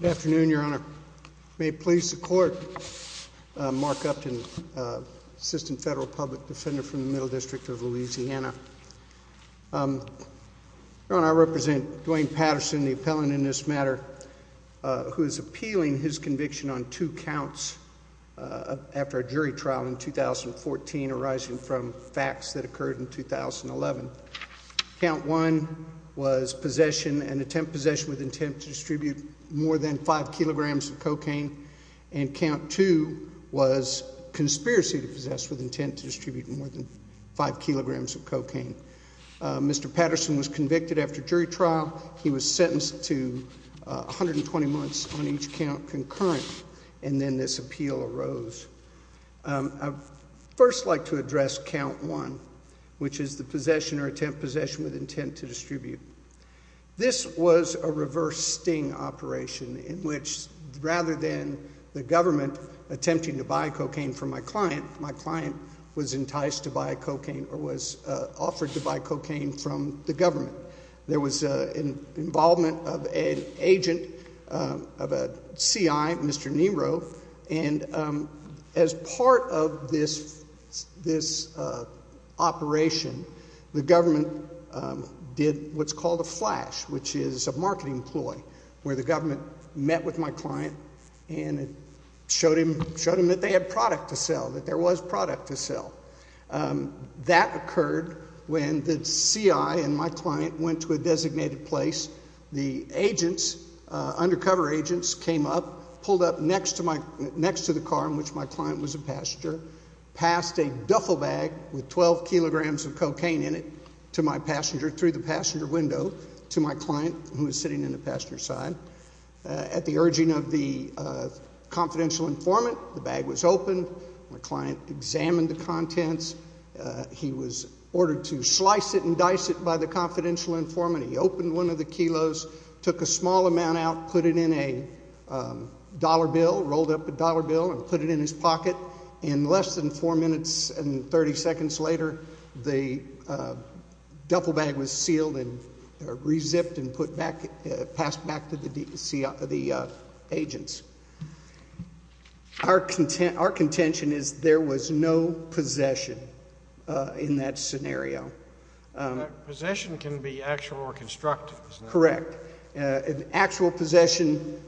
Good afternoon, Your Honor. May it please the Court, Mark Upton, Assistant Federal Public Defender from the Middle District of Louisiana. Your Honor, I represent Dwayne Patterson, the appellant in this matter, who is appealing his conviction on two counts after a jury trial in 2014 arising from facts that occurred in 2011. Count 1 was possession and attempt possession with intent to distribute more than 5 kilograms of cocaine, and Count 2 was conspiracy to possess with intent to distribute more than 5 kilograms of cocaine. Mr. Patterson was convicted after jury trial. He was sentenced to 120 months on each count concurrent, and then this appeal arose. I would first like to address Count 1, which is the possession or attempt possession with intent to distribute. This was a reverse sting operation in which rather than the government attempting to buy cocaine from my client, my client was enticed to buy cocaine or was offered to buy cocaine from the government. There was involvement of an agent, of a CI, Mr. Nero, and as part of this operation, the government did what's called a flash, which is a marketing ploy where the government met with my client and showed him that they had product to sell, that there was product to sell. That occurred when the CI and my client went to a designated place. The agents, undercover agents, came up, pulled up next to the car in which my client was a passenger, passed a duffel bag with 12 kilograms of cocaine in it to my passenger through the passenger window to my client who was sitting in the passenger side. At the urging of the confidential informant, the bag was opened, my client examined the contents. He was ordered to slice it and dice it by the confidential informant. He opened one of the kilos, took a small amount out, put it in a dollar bill, rolled up a dollar bill and put it in his pocket. In less than 4 minutes and 30 seconds later, the duffel bag was sealed and re-zipped and put back, passed back to the agents. Our contention is there was no possession in that scenario. Possession can be actual or constructive. Correct. An actual possession,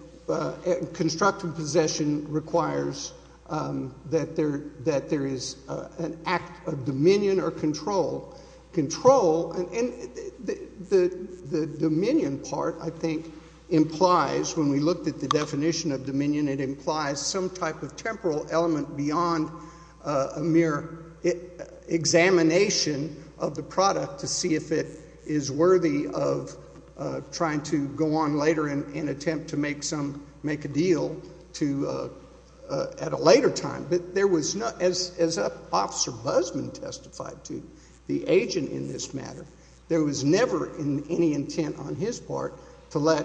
constructive possession requires that there is an act of dominion or control. Control, and the dominion part I think implies, when we looked at the definition of dominion, it implies some type of temporal element beyond a mere examination of the product to see if it is worthy of trying to go on later and attempt to make a deal at a later time. As Officer Busman testified to the agent in this matter, there was never any intent on his part to let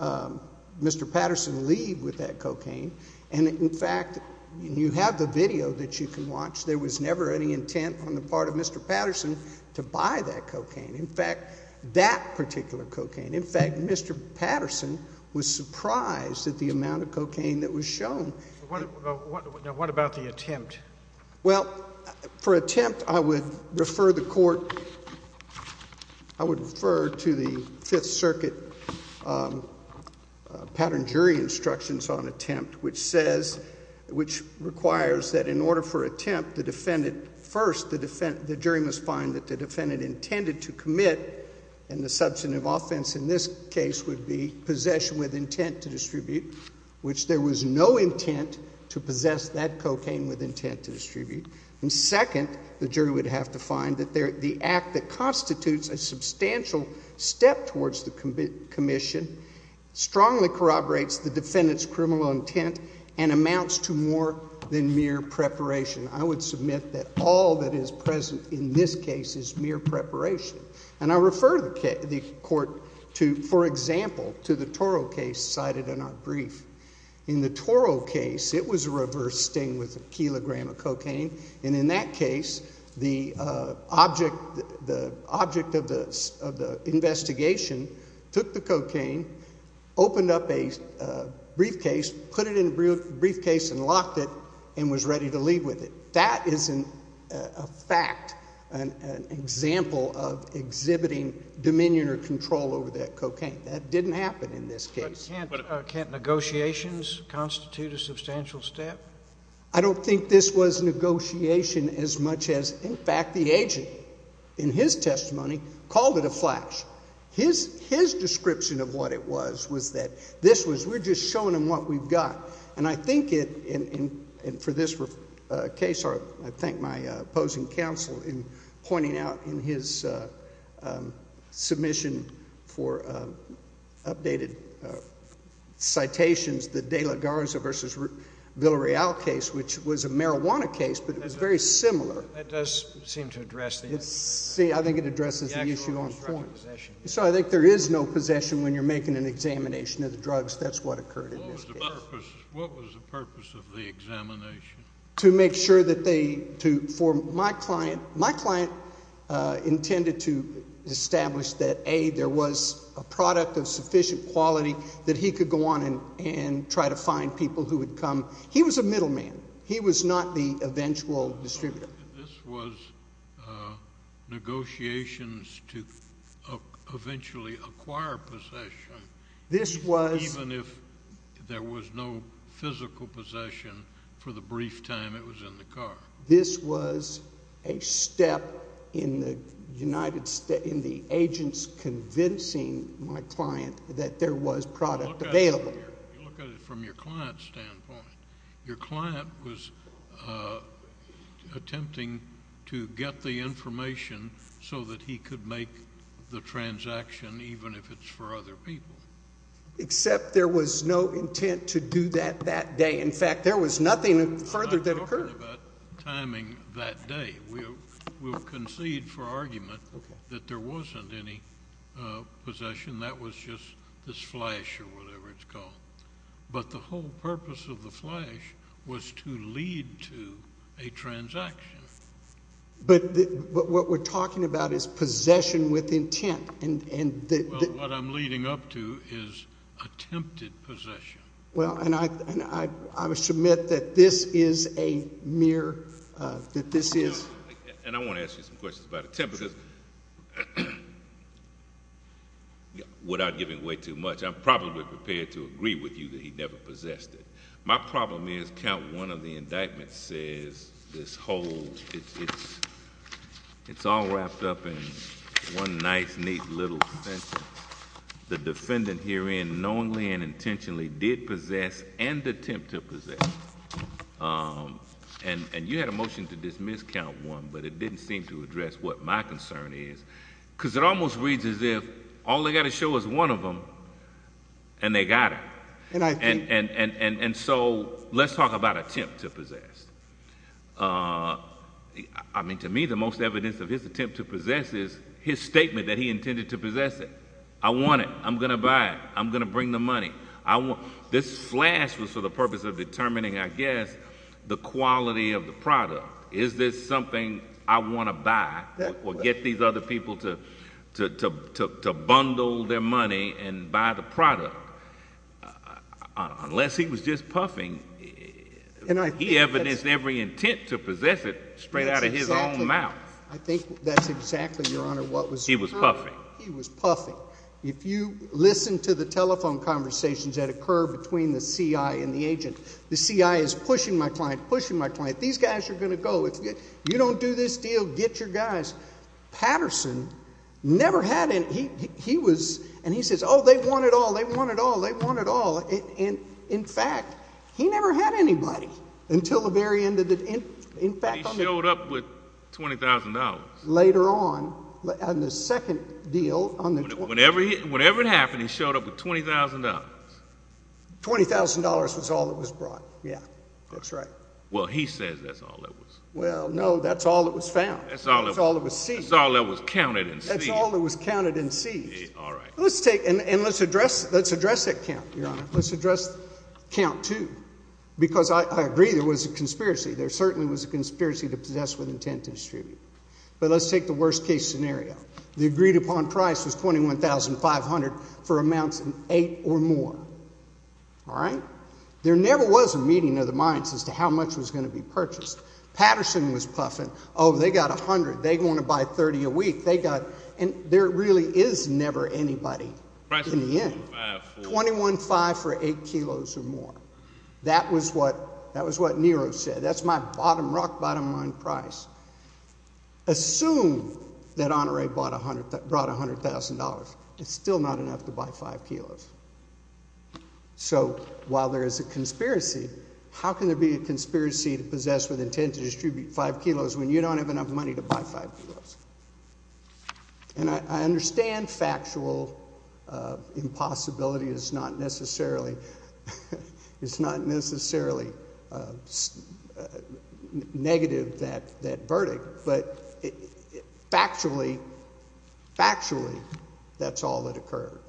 Mr. Patterson leave with that cocaine. In fact, you have the video that you can watch, there was never any intent on the part of Mr. Patterson to buy that cocaine. In fact, that particular cocaine. In fact, Mr. Patterson was surprised at the amount of cocaine that was shown. What about the attempt? Well, for attempt, I would refer the Court, I would refer to the Fifth Circuit pattern jury instructions on attempt, which says, which requires that in order for attempt, the defendant first, the jury must find that the defendant intended to commit, and the substantive offense in this case would be possession with intent to distribute, which there was no intent to possess that cocaine with intent to distribute. And second, the jury would have to find that the act that constitutes a substantial step towards the commission strongly corroborates the defendant's criminal intent and amounts to more than mere preparation. I would submit that all that is present in this case is mere preparation. And I refer the Court to, for example, to the Toro case cited in our brief. In the Toro case, it was a reverse sting with a kilogram of cocaine, and in that case, the object of the investigation took the cocaine, opened up a briefcase, put it in the briefcase and locked it, and was ready to leave with it. That is, in fact, an example of exhibiting dominion or control over that cocaine. That didn't happen in this case. But can't negotiations constitute a substantial step? I don't think this was negotiation as much as, in fact, the agent, in his testimony, called it a flash. His description of what it was, was that this was, we're just showing him what we've got. And I think it, and for this case, I thank my opposing counsel in pointing out in his submission for updated citations, the De La Garza v. Villareal case, which was a marijuana case, but it was very similar. That does seem to address the actual possession. See, I think it addresses the issue on point. So I think there is no possession when you're making an examination of the drugs. That's what occurred in this case. What was the purpose of the examination? To make sure that they, to, for my client, my client intended to establish that, A, there was a product of sufficient quality that he could go on and try to find people who would come. He was a middleman. He was not the eventual distributor. This was negotiations to eventually acquire possession, even if there was no physical possession for the brief time it was in the car. This was a step in the United States, in the agents convincing my client that there was product available. You look at it from your client's standpoint. Your client was attempting to get the information so that he could make the transaction, even if it's for other people. Except there was no intent to do that that day. In fact, there was nothing further that occurred. I'm not talking about timing that day. We'll concede for argument that there wasn't any possession. That was just this flash, or whatever it's called. But the whole purpose of the flash was to lead to a transaction. But what we're talking about is possession with intent. Well, what I'm leading up to is attempted possession. Well, and I would submit that this is a mere, that this is— And I want to ask you some questions about attempted— Without giving away too much, I'm probably prepared to agree with you that he never possessed it. My problem is, count one of the indictments says this whole—it's all wrapped up in one nice, neat little sentence. The defendant herein knowingly and intentionally did possess and attempt to possess. And you had a motion to dismiss count one, but it didn't seem to address what my concern is. Because it almost reads as if all they've got to show is one of them, and they got it. And so let's talk about attempt to possess. I mean, to me, the most evidence of his attempt to possess is his statement that he intended to possess it. I want it. I'm going to buy it. I'm going to bring the money. This flash was for the purpose of determining, I guess, the quality of the product. Is this something I want to buy or get these other people to bundle their money and buy the product? Unless he was just puffing, he evidenced every intent to possess it straight out of his own mouth. I think that's exactly, Your Honor, what was— He was puffing. He was puffing. If you listen to the telephone conversations that occur between the CI and the agent, the CI is pushing my client, pushing my client. These guys are going to go. If you don't do this deal, get your guys. Patterson never had any—he was—and he says, oh, they want it all. They want it all. They want it all. In fact, he never had anybody until the very end of the— He showed up with $20,000. Later on, on the second deal, on the— Whenever it happened, he showed up with $20,000. $20,000 was all that was brought. Yeah, that's right. Well, he says that's all that was— Well, no, that's all that was found. That's all that was seized. That's all that was counted and seized. That's all that was counted and seized. All right. Let's take—and let's address that count, Your Honor. Let's address count two, because I agree there was a conspiracy. There certainly was a conspiracy to possess with intent to distribute. But let's take the worst-case scenario. The agreed-upon price was $21,500 for amounts of eight or more. All right. There never was a meeting of the minds as to how much was going to be purchased. Patterson was puffing, oh, they got $100. They want to buy $30 a week. They got—and there really is never anybody in the end. $21,500 for eight kilos or more. That was what Nero said. That's my bottom rock, bottom line price. Assume that Honoré brought $100,000. It's still not enough to buy five kilos. So while there is a conspiracy, how can there be a conspiracy to possess with intent to distribute five kilos when you don't have enough money to buy five kilos? And I understand factual impossibility is not necessarily—it's not necessarily a negative, that verdict. But factually, factually, that's all that occurred.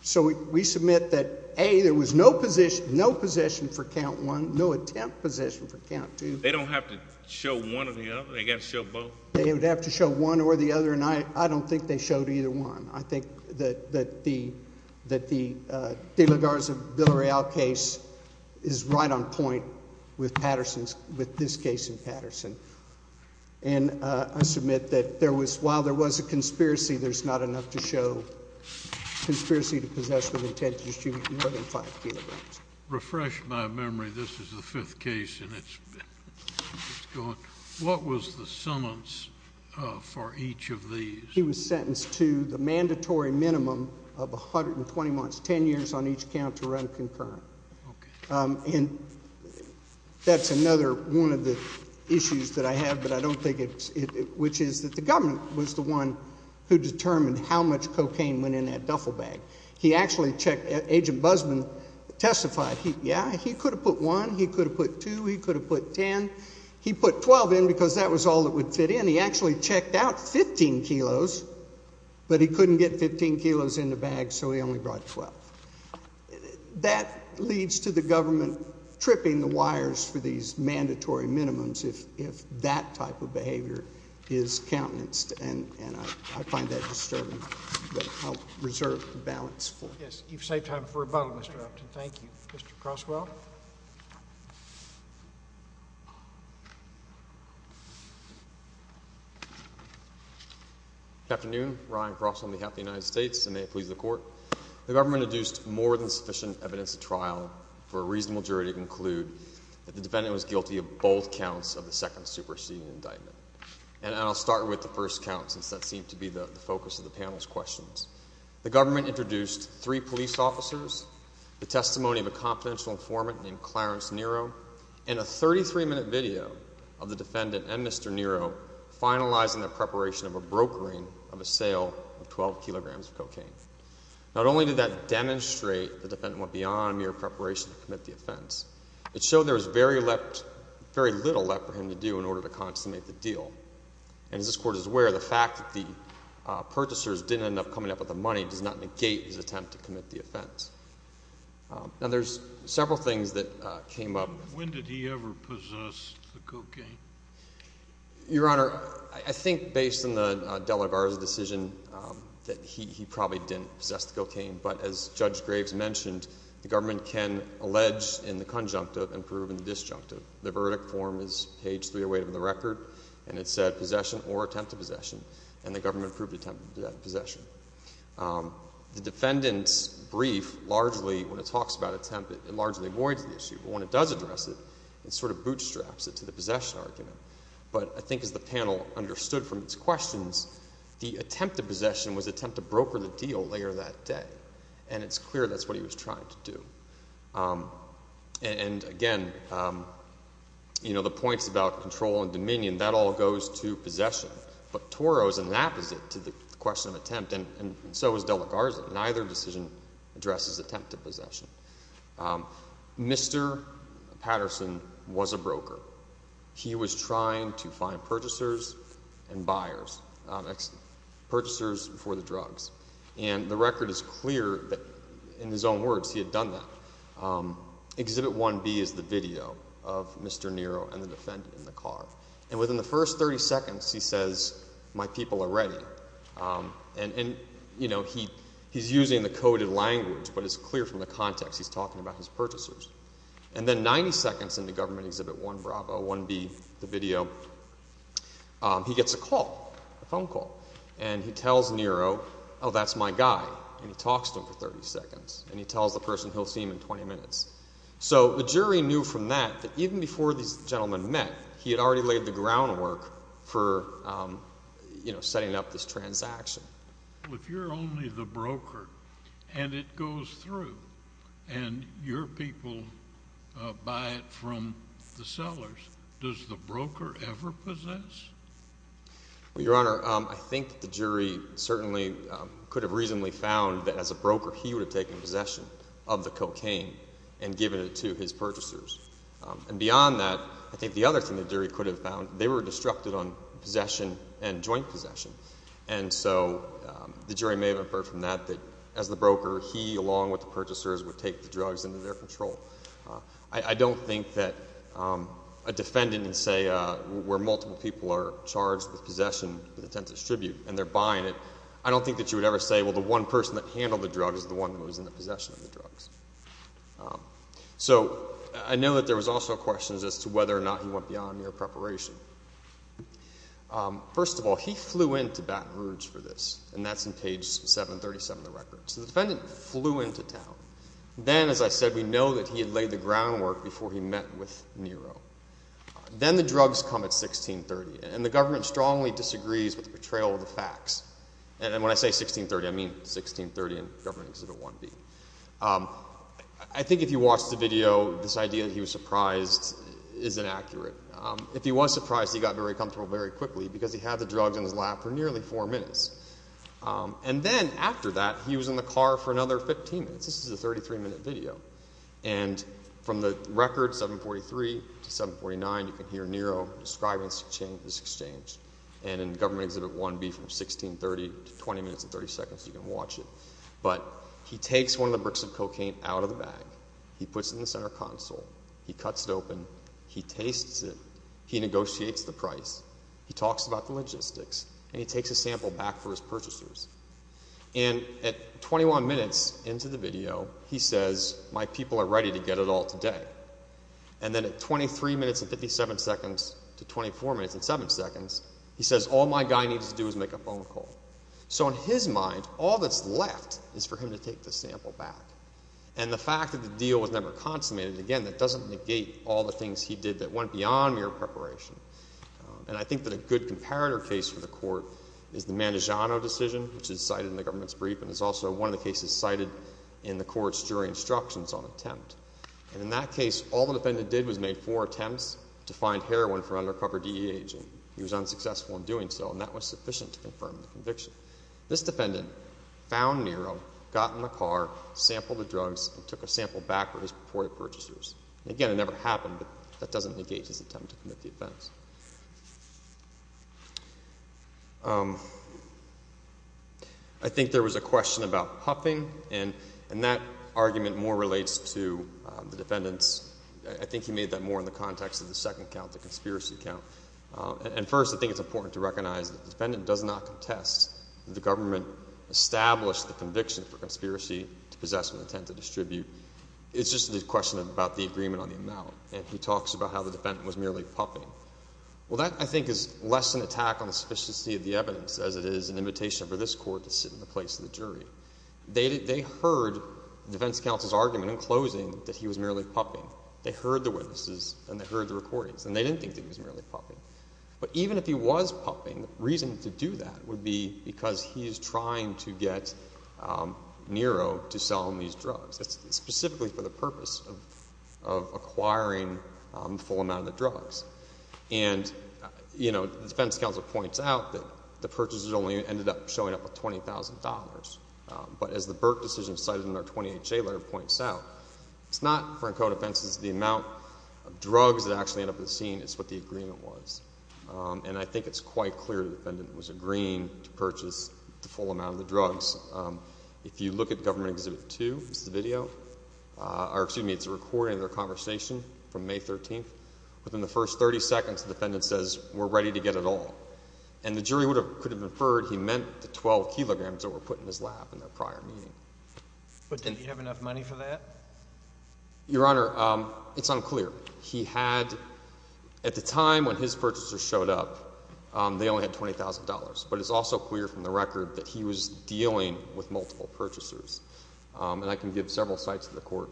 So we submit that, A, there was no possession for count one, no attempt possession for count two. They don't have to show one or the other? They got to show both? They would have to show one or the other, and I don't think they showed either one. I think that the De La Garza-Bilareal case is right on point with Patterson's—with this case in Patterson. And I submit that there was—while there was a conspiracy, there's not enough to show conspiracy to possess with intent to distribute more than five kilos. Refresh my memory. This is the fifth case, and it's gone. What was the summons for each of these? He was sentenced to the mandatory minimum of 120 months, 10 years on each count to run concurrent. And that's another one of the issues that I have, but I don't think it's—which is that the government was the one who determined how much cocaine went in that duffel bag. He actually checked—Agent Busman testified, yeah, he could have put one, he could have put two, he could have put 10. He put 12 in because that was all that would fit in. He actually checked out 15 kilos, but he couldn't get 15 kilos in the bag, so he only brought 12. That leads to the government tripping the wires for these mandatory minimums if that type of behavior is countenanced. And I find that disturbing, but I'll reserve the balance for— Yes. You've saved time for rebuttal, Mr. Upton. Thank you. Mr. Croswell. Good afternoon. Ryan Croswell on behalf of the United States, and may it please the Court. The government induced more than sufficient evidence at trial for a reasonable jury to conclude that the defendant was guilty of both counts of the second superseding indictment. And I'll start with the first count since that seemed to be the focus of the panel's questions. The government introduced three police officers, the testimony of a confidential informant named Clarence Nero, and a 33-minute video of the defendant and Mr. Nero finalizing the preparation of a brokering of a sale of 12 kilograms of cocaine. Not only did that demonstrate the defendant went beyond mere preparation to commit the offense, it showed there was very little left for him to do in order to consummate the deal. And as this Court is aware, the fact that the purchasers didn't end up coming up with the money does not negate his attempt to commit the offense. Now, there's several things that came up. When did he ever possess the cocaine? Your Honor, I think based on the De La Garza decision that he probably didn't possess the cocaine. But as Judge Graves mentioned, the government can allege in the conjunctive and prove in the disjunctive. The verdict form is page 308 of the record, and it said possession or attempt to possession. And the government proved attempt to possession. The defendant's brief largely, when it talks about attempt, it largely avoids the issue. But when it does address it, it sort of bootstraps it to the possession argument. But I think as the panel understood from its questions, the attempt to possession was attempt to broker the deal later that day. And it's clear that's what he was trying to do. And again, you know, the points about control and dominion, that all goes to possession. But Toro is an apposite to the question of attempt, and so is De La Garza. Neither decision addresses attempt to possession. Mr. Patterson was a broker. He was trying to find purchasers and buyers, purchasers for the drugs. And the record is clear that, in his own words, he had done that. Exhibit 1B is the video of Mr. Nero and the defendant in the car. And within the first 30 seconds, he says, my people are ready. And, you know, he's using the coded language, but it's clear from the context he's talking about his purchasers. And then 90 seconds into Government Exhibit 1B, the video, he gets a call, a phone call. And he tells Nero, oh, that's my guy. And he talks to him for 30 seconds. And he tells the person he'll see him in 20 minutes. So the jury knew from that that even before these gentlemen met, he had already laid the groundwork for, you know, setting up this transaction. Well, if you're only the broker and it goes through and your people buy it from the sellers, does the broker ever possess? Your Honor, I think the jury certainly could have reasonably found that, as a broker, he would have taken possession of the cocaine and given it to his purchasers. And beyond that, I think the other thing the jury could have found, they were disrupted on possession and joint possession. And so the jury may have inferred from that that, as the broker, he, along with the purchasers, would take the drugs into their control. I don't think that a defendant in, say, where multiple people are charged with possession with intent to distribute and they're buying it, I don't think that you would ever say, well, the one person that handled the drug is the one who was in the possession of the drugs. So I know that there was also questions as to whether or not he went beyond mere preparation. First of all, he flew into Baton Rouge for this, and that's in page 737 of the record. So the defendant flew into town. Then, as I said, we know that he had laid the groundwork before he met with Nero. Then the drugs come at 1630, and the government strongly disagrees with the portrayal of the facts. And when I say 1630, I mean 1630 in Government Exhibit 1B. I think if you watched the video, this idea that he was surprised is inaccurate. If he was surprised, he got very comfortable very quickly because he had the drugs in his lap for nearly four minutes. And then after that, he was in the car for another 15 minutes. This is a 33-minute video. And from the record, 743 to 749, you can hear Nero describing this exchange. And in Government Exhibit 1B from 1630 to 20 minutes and 30 seconds, you can watch it. But he takes one of the bricks of cocaine out of the bag. He puts it in the center console. He cuts it open. He tastes it. He negotiates the price. He talks about the logistics. And he takes a sample back for his purchasers. And at 21 minutes into the video, he says, my people are ready to get it all today. And then at 23 minutes and 57 seconds to 24 minutes and 7 seconds, he says, all my guy needs to do is make a phone call. So in his mind, all that's left is for him to take the sample back. And the fact that the deal was never consummated, again, that doesn't negate all the things he did that went beyond mere preparation. And I think that a good comparator case for the court is the Mandagiano decision, which is cited in the government's brief and is also one of the cases cited in the court's jury instructions on attempt. And in that case, all the defendant did was make four attempts to find heroin from an undercover DEA agent. He was unsuccessful in doing so. And that was sufficient to confirm the conviction. This defendant found Nero, got in the car, sampled the drugs, and took a sample back for his purported purchasers. And again, it never happened. But that doesn't negate his attempt to commit the offense. I think there was a question about puffing. And that argument more relates to the defendant's, I think he made that more in the context of the second count, the conspiracy count. And first, I think it's important to recognize that the defendant does not contest that the government established the conviction for conspiracy to possess and attempt to distribute. It's just a question about the agreement on the amount. And he talks about how the defendant was merely puffing. Well, that, I think, is less an attack on the sufficiency of the evidence as it is an invitation for this court to sit in the place of the jury. They heard the defense counsel's argument in closing that he was merely puffing. They heard the witnesses, and they heard the recordings. And they didn't think that he was merely puffing. But even if he was puffing, the reason to do that would be because he is trying to get Nero to sell him these drugs, specifically for the purpose of acquiring the full amount of the drugs. And the defense counsel points out that the purchasers only ended up showing up with $20,000. But as the Burke decision cited in our 20HA letter points out, it's not, for Encoda offenses, the amount of drugs that actually end up at the scene. It's what the agreement was. And I think it's quite clear the defendant was agreeing to purchase the full amount of the drugs. If you look at Government Exhibit 2, this is the video, or excuse me, it's a recording of their conversation from May 13th. Within the first 30 seconds, the defendant says, we're ready to get it all. And the jury could have inferred he meant the 12 kilograms that were put in his lap. In their prior meeting. But didn't he have enough money for that? Your Honor, it's unclear. He had, at the time when his purchasers showed up, they only had $20,000. But it's also clear from the record that he was dealing with multiple purchasers. And I can give several sites of the court.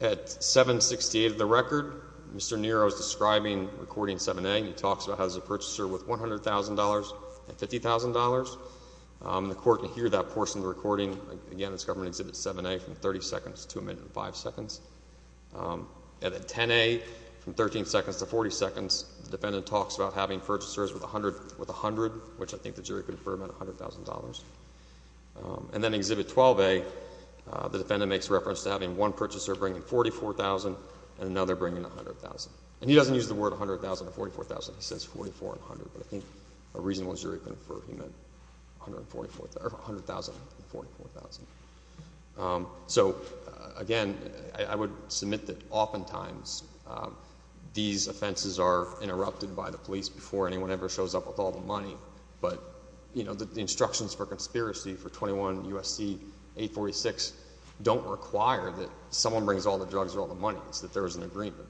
At 768 of the record, Mr. Nero is describing recording 7A. He talks about how he has a purchaser with $100,000 and $50,000. The court can hear that portion of the recording. Again, it's Government Exhibit 7A from 30 seconds to a minute and five seconds. At 10A, from 13 seconds to 40 seconds, the defendant talks about having purchasers with $100,000, which I think the jury could infer meant $100,000. And then Exhibit 12A, the defendant makes reference to having one purchaser bringing $44,000 and another bringing $100,000. And he doesn't use the word $100,000 or $44,000. He says $44,000 and $100,000. But I think a reasonable jury could infer he meant $100,000 and $44,000. So again, I would submit that oftentimes these offenses are interrupted by the police before anyone ever shows up with all the money. But the instructions for conspiracy for 21 U.S.C. 846 don't require that someone brings all the drugs or all the money. It's that there is an agreement.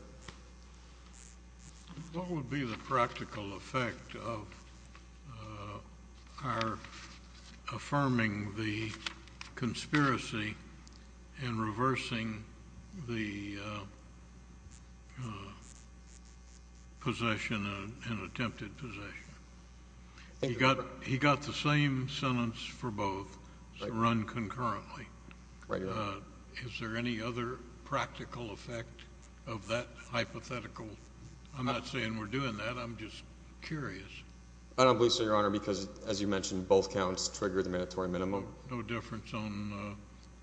JUDGE McANANY What would be the practical effect of our affirming the conspiracy and reversing the possession and attempted possession? He got the same sentence for both, so run concurrently. Is there any other practical effect of that hypothetical? I'm not saying we're doing that. I'm just curious. MR. GOLDSMITH I don't believe so, Your Honor, because as you mentioned, both counts trigger the mandatory minimum. JUDGE McANANY No difference on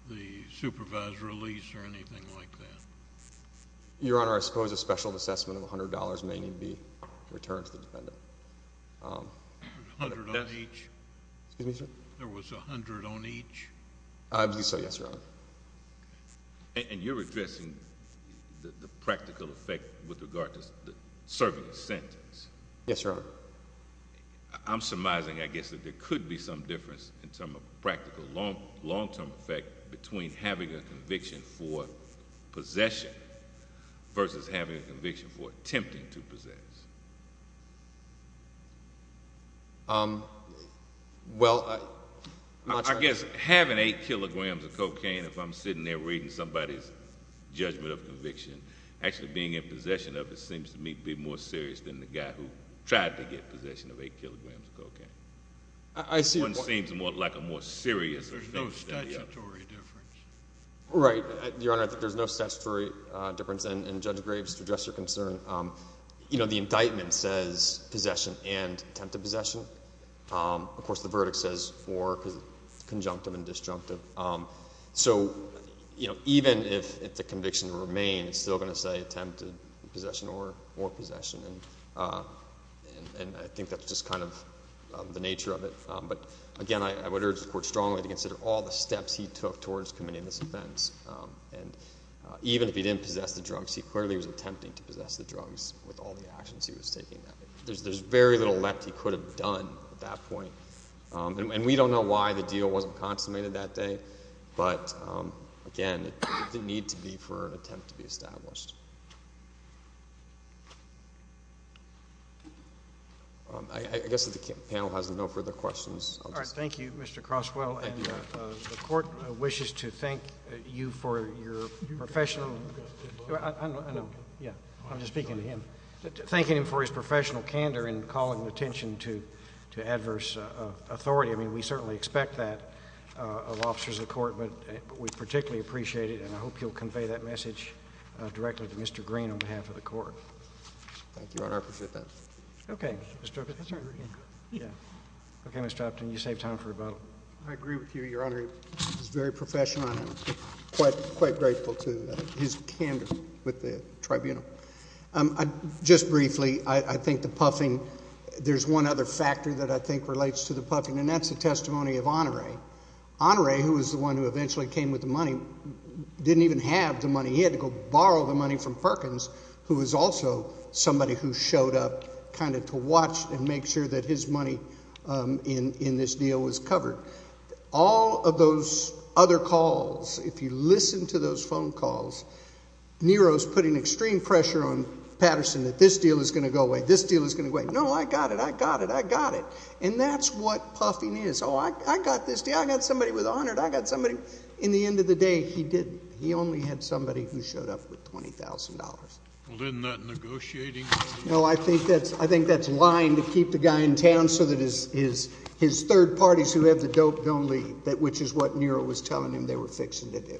the supervised release or anything like that? MR. GOLDSMITH Your Honor, I suppose a special assessment of $100 may need to be returned to the defendant. JUDGE McANANY There was $100 on each? MR. GOLDSMITH I believe so, yes, Your Honor. JUDGE McANANY And you're addressing the practical effect with regard to serving a sentence? MR. GOLDSMITH Yes, Your Honor. JUDGE McANANY I'm surmising, I guess, that there could be some difference in terms of practical long-term effect between having a conviction for possession versus having a conviction for attempting to possess. MR. GOLDSMITH Well, I'm not sure. Having 8 kilograms of cocaine, if I'm sitting there reading somebody's judgment of conviction, actually being in possession of it seems to me to be more serious than the guy who tried to get possession of 8 kilograms of cocaine. MR. McANANY I see. MR. GOLDSMITH One seems more like a more serious thing. JUDGE McANANY There's no statutory difference? MR. GOLDSMITH Right, Your Honor, I think there's no statutory difference, and Judge Graves, to address your concern, the indictment says possession and attempted possession. Of course, the verdict says for conjunctive and disjunctive. So, you know, even if the conviction remains, it's still going to say attempted possession or possession, and I think that's just kind of the nature of it. But again, I would urge the Court strongly to consider all the steps he took towards committing this offense. And even if he didn't possess the drugs, he clearly was attempting to possess the drugs with all the actions he was taking. There's very little left he could have done at that point. And we don't know why the deal wasn't consummated that day, but again, it didn't need to be for an attempt to be established. I guess that the panel has no further questions. MR. MCANANY All right. Thank you, Mr. Croswell. And the Court wishes to thank you for your professional – I know, yeah, I'm just speaking to him. Thanking him for his professional candor and calling attention to adverse authority. I mean, we certainly expect that of officers of the Court, but we particularly appreciate it, and I hope you'll convey that message directly to Mr. Green on behalf of the Court. MR. MCANANY Thank you, Your Honor. I appreciate that. MCANANY Okay. O'Brien. MR. O'BRIEN Yeah. MCANANY Okay, Mr. Upton. You save time for rebuttal. MR. O'BRIEN I agree with you, Your Honor. He was very professional, and I'm quite grateful to his candor with the Tribunal. I – just briefly, I think the puffing – there's one other factor that I think relates to the puffing, and that's the testimony of Honore. Honore, who was the one who eventually came with the money, didn't even have the money. He had to go borrow the money from Perkins, who was also somebody who showed up kind of to watch and make sure that his money in this deal was covered. All of those other calls, if you listen to those phone calls, Nero's putting extreme pressure on Patterson that this deal is going to go away, this deal is going to go away. No, I got it. I got it. I got it. And that's what puffing is. Oh, I got this deal. I got somebody with 100. I got somebody – in the end of the day, he didn't. He only had somebody who showed up with $20,000. MR. MCANANY Well, isn't that negotiating? MR. O'BRIEN No, I think that's – I think that's lying to keep the guy in town so that his third parties who have the dope don't leave, which is what Nero was telling him they were fixing to do.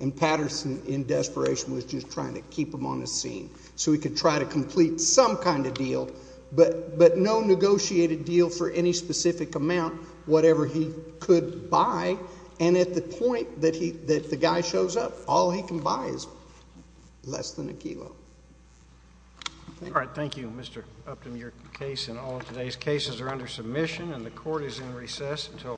And Patterson, in desperation, was just trying to keep him on the scene so he could try to complete some kind of deal, but no negotiated deal for any specific amount, whatever he could buy. And at the point that he – that the guy shows up, all he can buy is less than a kilo. MR. MCANANY All right. Thank you, Mr. Upton. MR. MCANANY Thank you, Mr. Chairman.